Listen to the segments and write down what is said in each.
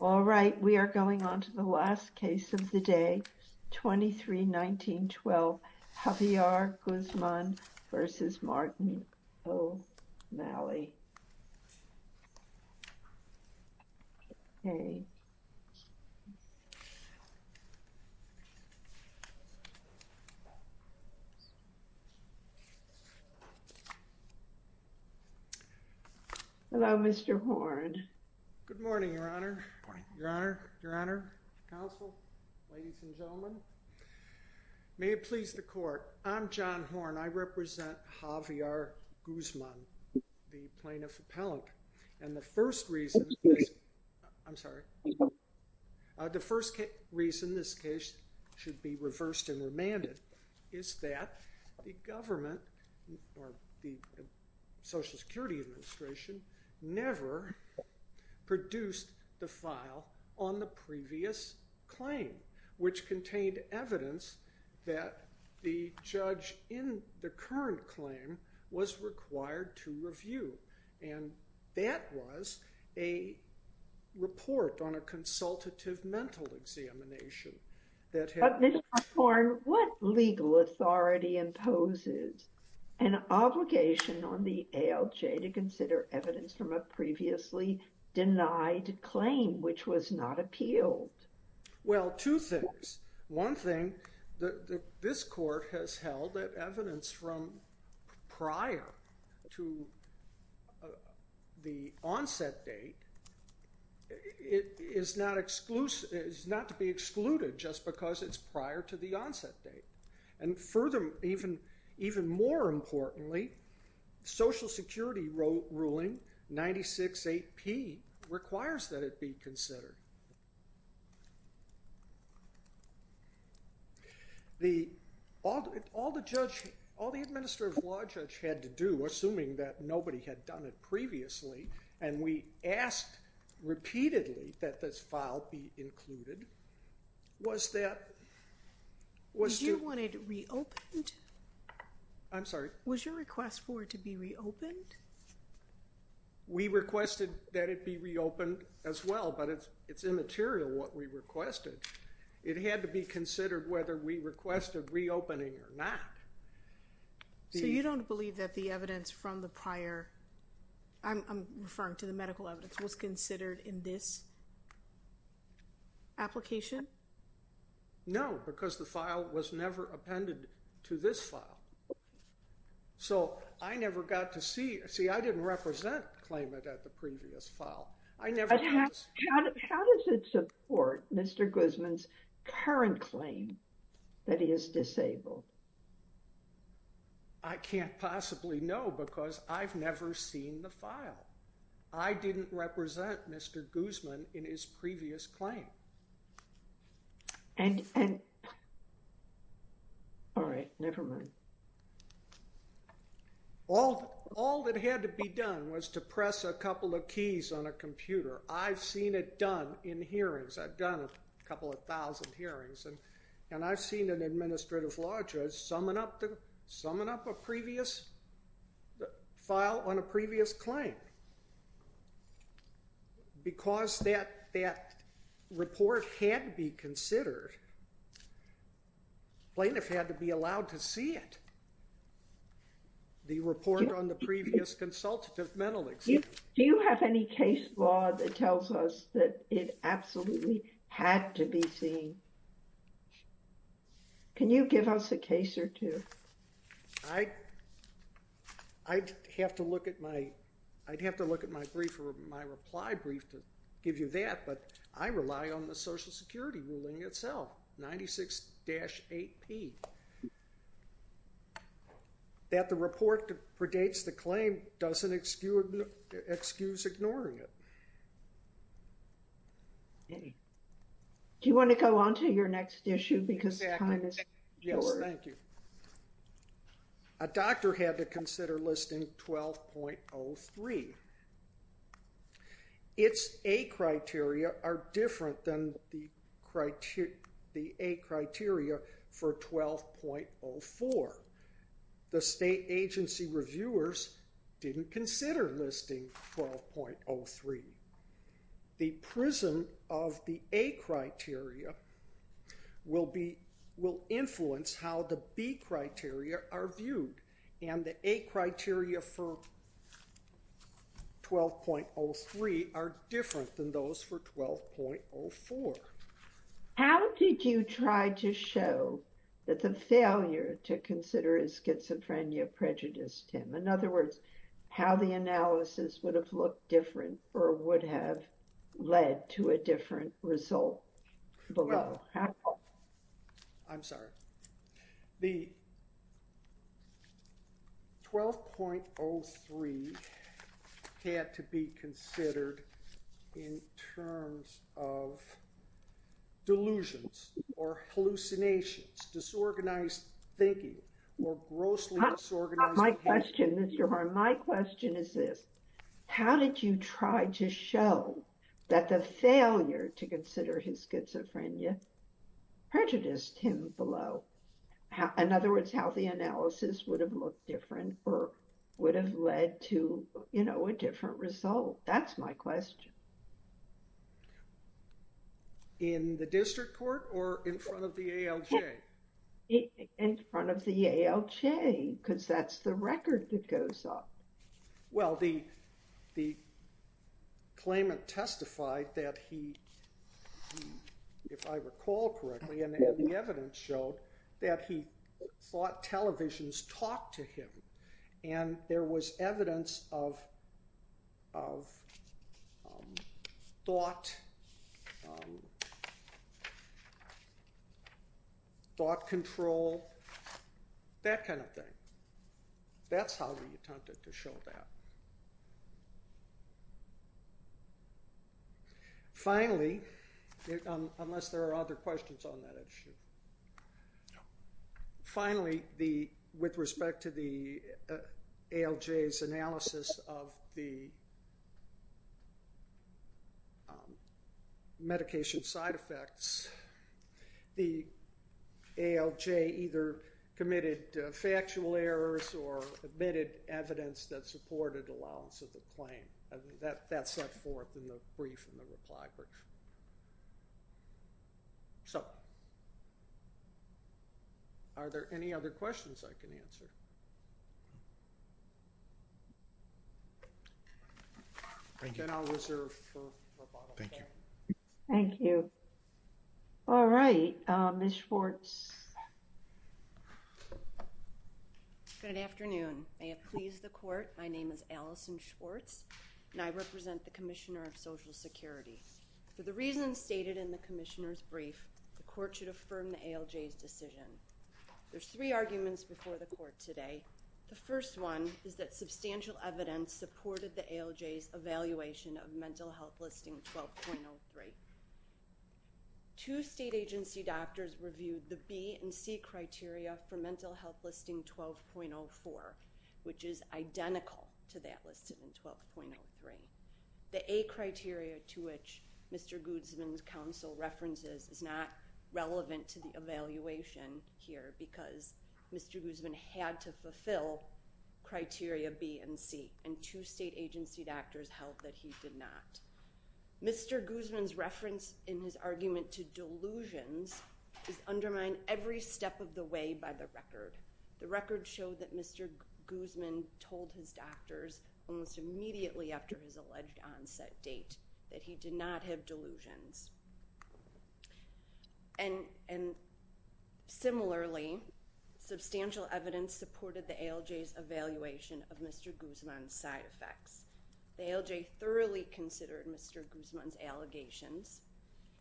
All right, we are going on to the last case of the day, 23-19-12, Javier Guzman v. Martin O'Malley. Hello, Mr. Horne. Good morning, Your Honor. Your Honor. Your Honor. Counsel. Ladies and gentlemen. May it please the court. I'm John Horne. I represent Javier Guzman, the plaintiff appellant. And the first reason, I'm sorry, the first reason this case should be reversed and remanded is that the government, or the Social Security Administration, never produced the file on the previous claim, which contained evidence that the judge in the current claim was required to review. And that was a report on a consultative mental examination. But Mr. Horne, what legal authority imposes an obligation on the ALJ to consider evidence from a previously denied claim which was not appealed? Well, two things. One thing, this court has held that evidence from prior to the onset date is not to be excluded just because it's prior to the onset date. And further, even more importantly, Social Security ruling 96-8-P requires that it be considered. The, all the judge, all the administrative law judge had to do, assuming that nobody had done it previously, and we asked repeatedly that this file be included, was that, was to, Did you want it reopened? I'm sorry? Was your request for it to be reopened? We requested that it be reopened as well, but it's immaterial what we requested. It had to be considered whether we requested reopening or not. So you don't believe that the evidence from the prior, I'm referring to the medical evidence, was considered in this application? No, because the file was never appended to this file. So I never got to see, see, I didn't represent the claimant at the previous file. How does it support Mr. Guzman's current claim that he is disabled? I can't possibly know because I've never seen the file. I didn't represent Mr. Guzman in his previous claim. And, and, all right, never mind. All, all that had to be done was to press a couple of keys on a computer. I've seen it done in hearings. I've done a couple of thousand hearings, and, and I've seen an administrative law judge summon up the, summon up a previous file on a previous claim. Because that, that report had to be considered, plaintiff had to be allowed to see it, the report on the previous consultative mental exam. Do you have any case law that tells us that it absolutely had to be seen? Can you give us a case or two? I, I'd have to look at my, I'd have to look at my brief, my reply brief to give you that, but I rely on the Social Security ruling itself, 96-8P. That the report predates the claim doesn't excuse ignoring it. Do you want to go on to your next issue because time is short? Yes, thank you. A doctor had to consider listing 12.03. Its A criteria are different than the criteria, the A criteria for 12.04. The state agency reviewers didn't consider listing 12.03. The prism of the A criteria will be, will influence how the B criteria are viewed, and the A criteria for 12.03 are different than those for 12.04. How did you try to show that the failure to consider his schizophrenia prejudiced him? In other words, how the analysis would have looked different or would have led to a different result below? I'm sorry. The 12.03 had to be considered in terms of delusions or hallucinations, disorganized thinking, or grossly disorganized behavior. My question is this. How did you try to show that the failure to consider his schizophrenia prejudiced him below? In other words, how the analysis would have looked different or would have led to a different result? That's my question. In the district court or in front of the ALJ? In front of the ALJ, because that's the record that goes up. Well, the claimant testified that he, if I recall correctly, and the evidence showed that he thought televisions talked to him, and there was evidence of thought control, that kind of thing. That's how we attempted to show that. Finally, unless there are other questions on that issue. Finally, with respect to the ALJ's analysis of the medication side effects, the ALJ either committed factual errors or admitted evidence that supported allowance of the claim. That's set forth in the brief and the reply brief. Are there any other questions I can answer? Then I'll reserve for rebuttal. Thank you. All right. Ms. Schwartz. Good afternoon. May it please the court. My name is Allison Schwartz, and I represent the Commissioner of Social Security. For the reasons stated in the Commissioner's brief, the court should affirm the ALJ's decision. There's three arguments before the court today. The first one is that substantial evidence supported the ALJ's evaluation of mental health listing 12.03. Two state agency doctors reviewed the B and C criteria for mental health listing 12.04, which is identical to that listed in 12.03. The A criteria to which Mr. Guzman's counsel references is not relevant to the evaluation here because Mr. Guzman had to fulfill criteria B and C, and two state agency doctors held that he did not. Mr. Guzman's reference in his argument to delusions is undermined every step of the way by the record. The record showed that Mr. Guzman told his doctors almost immediately after his alleged onset date that he did not have delusions. And similarly, substantial evidence supported the ALJ's evaluation of Mr. Guzman's side effects. The ALJ thoroughly considered Mr. Guzman's allegations.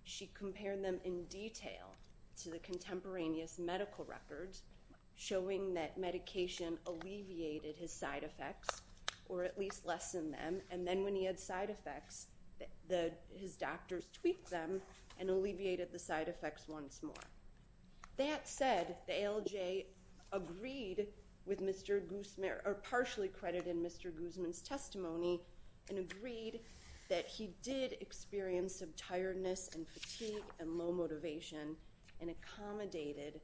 She compared them in detail to the contemporaneous medical records, showing that medication alleviated his side effects, or at least lessened them. And then when he had side effects, his doctors tweaked them and alleviated the side effects once more. That said, the ALJ agreed with Mr. Guzman, or partially credited Mr. Guzman's testimony and agreed that he did experience some tiredness and fatigue and low motivation and accommodated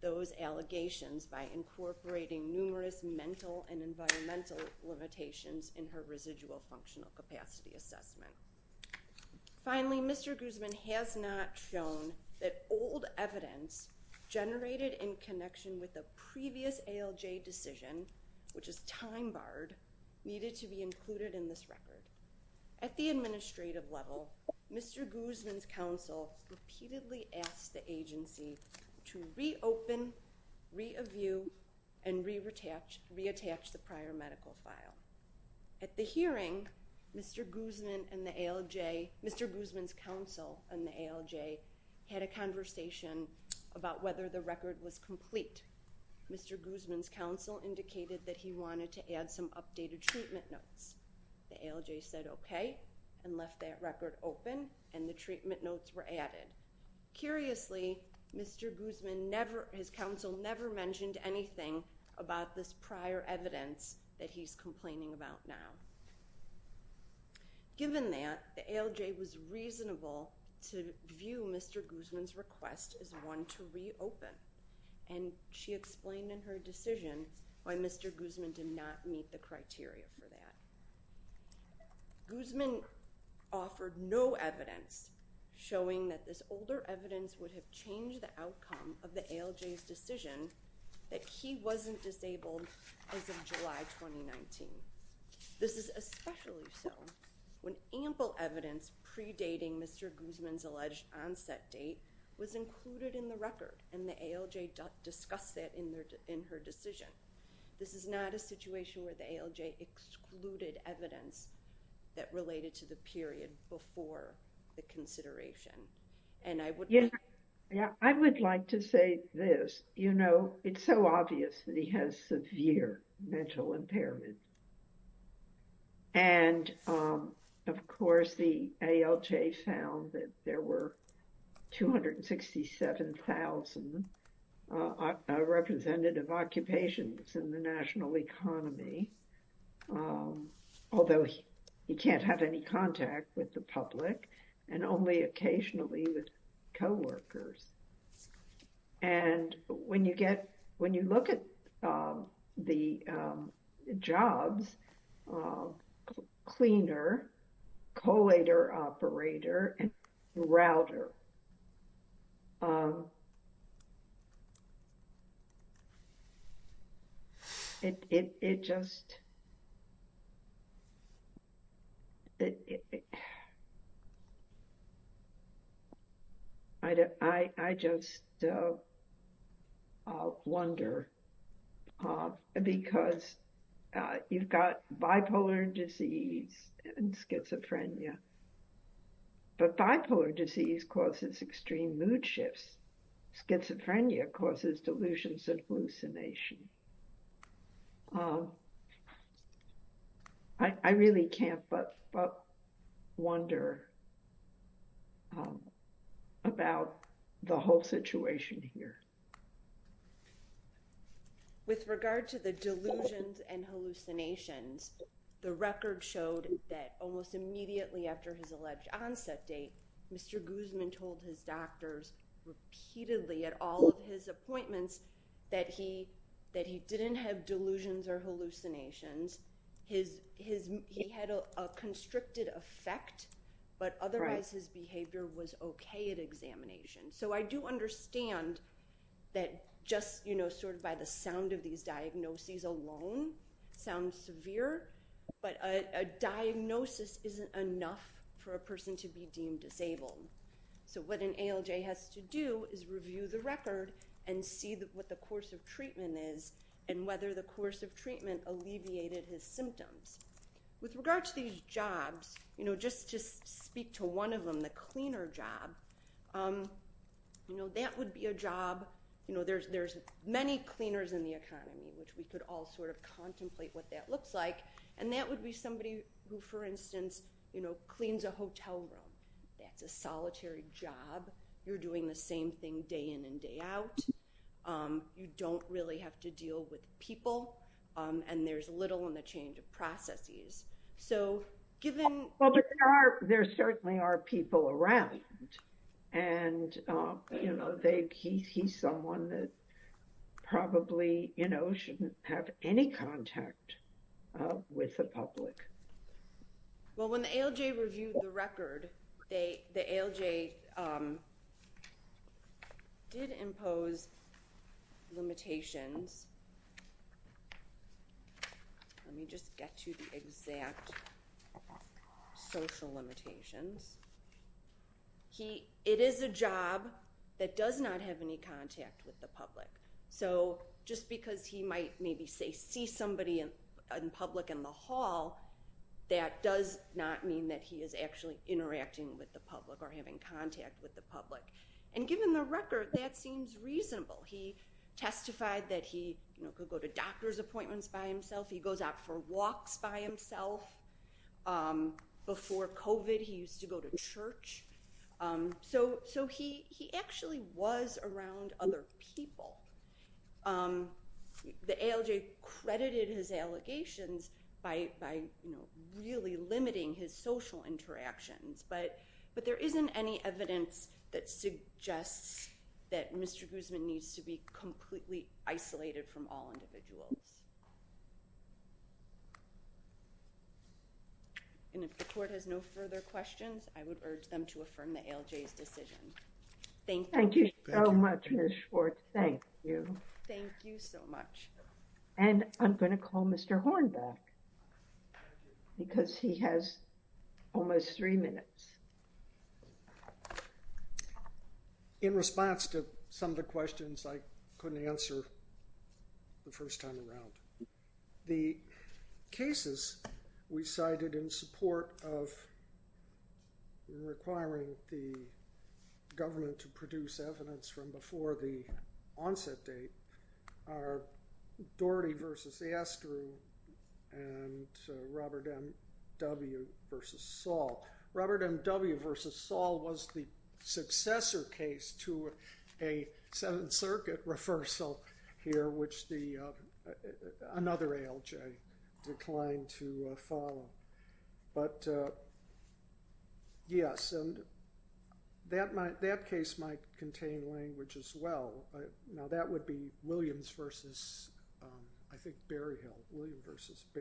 those allegations by incorporating numerous mental and environmental limitations in her residual functional capacity assessment. Finally, Mr. Guzman has not shown that old evidence generated in connection with the previous ALJ decision, which is time-barred, needed to be included in this record. At the administrative level, Mr. Guzman's counsel repeatedly asked the agency to reopen, review, and reattach the prior medical file. At the hearing, Mr. Guzman's counsel and the ALJ had a conversation about whether the record was complete. Mr. Guzman's counsel indicated that he wanted to add some updated treatment notes. The ALJ said okay and left that record open and the treatment notes were added. Curiously, Mr. Guzman's counsel never mentioned anything about this prior evidence that he's complaining about now. Given that, the ALJ was reasonable to view Mr. Guzman's request as one to reopen, and she explained in her decision why Mr. Guzman did not meet the criteria for that. Guzman offered no evidence showing that this older evidence would have changed the outcome of the ALJ's decision that he wasn't disabled as of July 2019. This is especially so when ample evidence predating Mr. Guzman's alleged onset date was included in the record and the ALJ discussed that in her decision. This is not a situation where the ALJ excluded evidence that related to the period before the consideration. And I would like to say this, you know, it's so obvious that he has severe mental impairment. And, of course, the ALJ found that there were 267,000 representative occupations in the national economy, although he can't have any contact with the public and only occasionally with coworkers. And when you get, when you look at the jobs, cleaner, collator operator, and router, it just, I just wonder, because you've got bipolar disease and schizophrenia, but bipolar disease causes extreme mood shifts. Schizophrenia causes delusions and hallucination. I really can't but wonder about the whole situation here. With regard to the delusions and hallucinations, the record showed that almost immediately after his alleged onset date, Mr. Guzman told his doctors repeatedly at all of his appointments that he didn't have delusions or hallucinations. He had a constricted effect, but otherwise his behavior was okay at examination. So I do understand that just, you know, sort of by the sound of these diagnoses alone sounds severe, but a diagnosis isn't enough for a person to be deemed disabled. So what an ALJ has to do is review the record and see what the course of treatment is and whether the course of treatment alleviated his symptoms. With regard to these jobs, you know, just to speak to one of them, the cleaner job, you know, that would be a job, you know, there's many cleaners in the economy, which we could all sort of contemplate what that looks like. And that would be somebody who, for instance, you know, cleans a hotel room. That's a solitary job. You're doing the same thing day in and day out. You don't really have to deal with people. And there's little in the change of processes. Well, there certainly are people around. And, you know, he's someone that probably, you know, shouldn't have any contact with the public. Well, when the ALJ reviewed the record, the ALJ did impose limitations. Let me just get to the exact social limitations. It is a job that does not have any contact with the public. So just because he might maybe, say, see somebody in public in the hall, that does not mean that he is actually interacting with the public or having contact with the public. And given the record, that seems reasonable. He testified that he could go to doctor's appointments by himself. He goes out for walks by himself. Before COVID, he used to go to church. So he actually was around other people. The ALJ credited his allegations by, you know, really limiting his social interactions. But there isn't any evidence that suggests that Mr. Guzman needs to be completely isolated from all individuals. And if the court has no further questions, I would urge them to affirm the ALJ's decision. Thank you. Thank you so much, Ms. Schwartz. Thank you. Thank you so much. And I'm going to call Mr. Horn back because he has almost three minutes. In response to some of the questions I couldn't answer the first time around, the cases we cited in support of requiring the government to produce evidence from before the onset date are Doherty v. Astor and Robert M. W. v. Saul. Robert M. W. v. Saul was the successor case to a Seventh Circuit reversal here, which another ALJ declined to follow. But yes, and that case might contain language as well. Now, that would be Williams v. I think Berryhill, Williams v.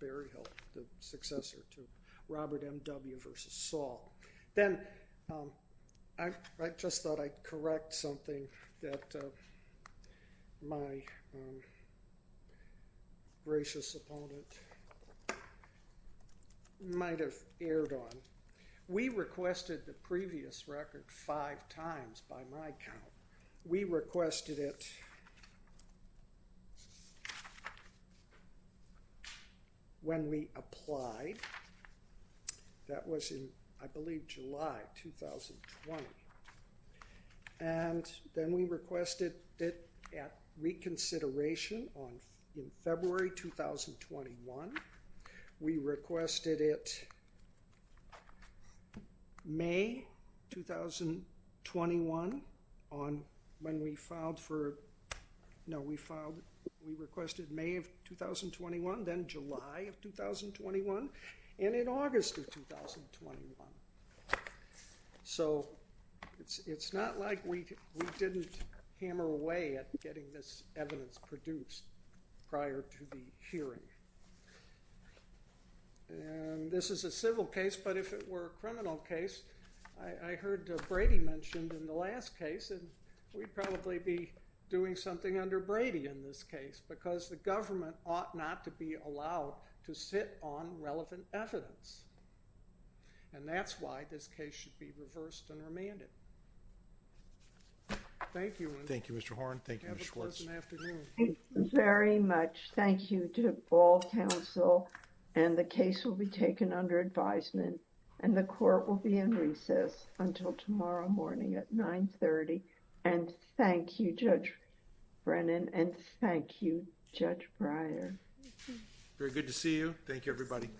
Berryhill, the successor to Robert M. W. v. Saul. Then I just thought I'd correct something that my gracious opponent might have erred on. We requested the previous record five times by my count. We requested it when we applied. That was in, I believe, July 2020. And then we requested it at reconsideration in February 2021. We requested it May 2021 when we filed for, no, we filed, we requested May of 2021, then July of 2021, and in August of 2021. So it's not like we didn't hammer away at getting this evidence produced prior to the hearing. And this is a civil case, but if it were a criminal case, I heard Brady mentioned in the last case, and we'd probably be doing something under Brady in this case because the government ought not to be allowed to sit on relevant evidence. And that's why this case should be reversed and remanded. Thank you. Thank you, Mr. Horn. Thank you, Ms. Schwartz. Thank you very much. Thank you to all counsel, and the case will be taken under advisement, and the court will be in recess until tomorrow morning at 930. And thank you, Judge Brennan, and thank you, Judge Breyer. Very good to see you. Thank you, everybody.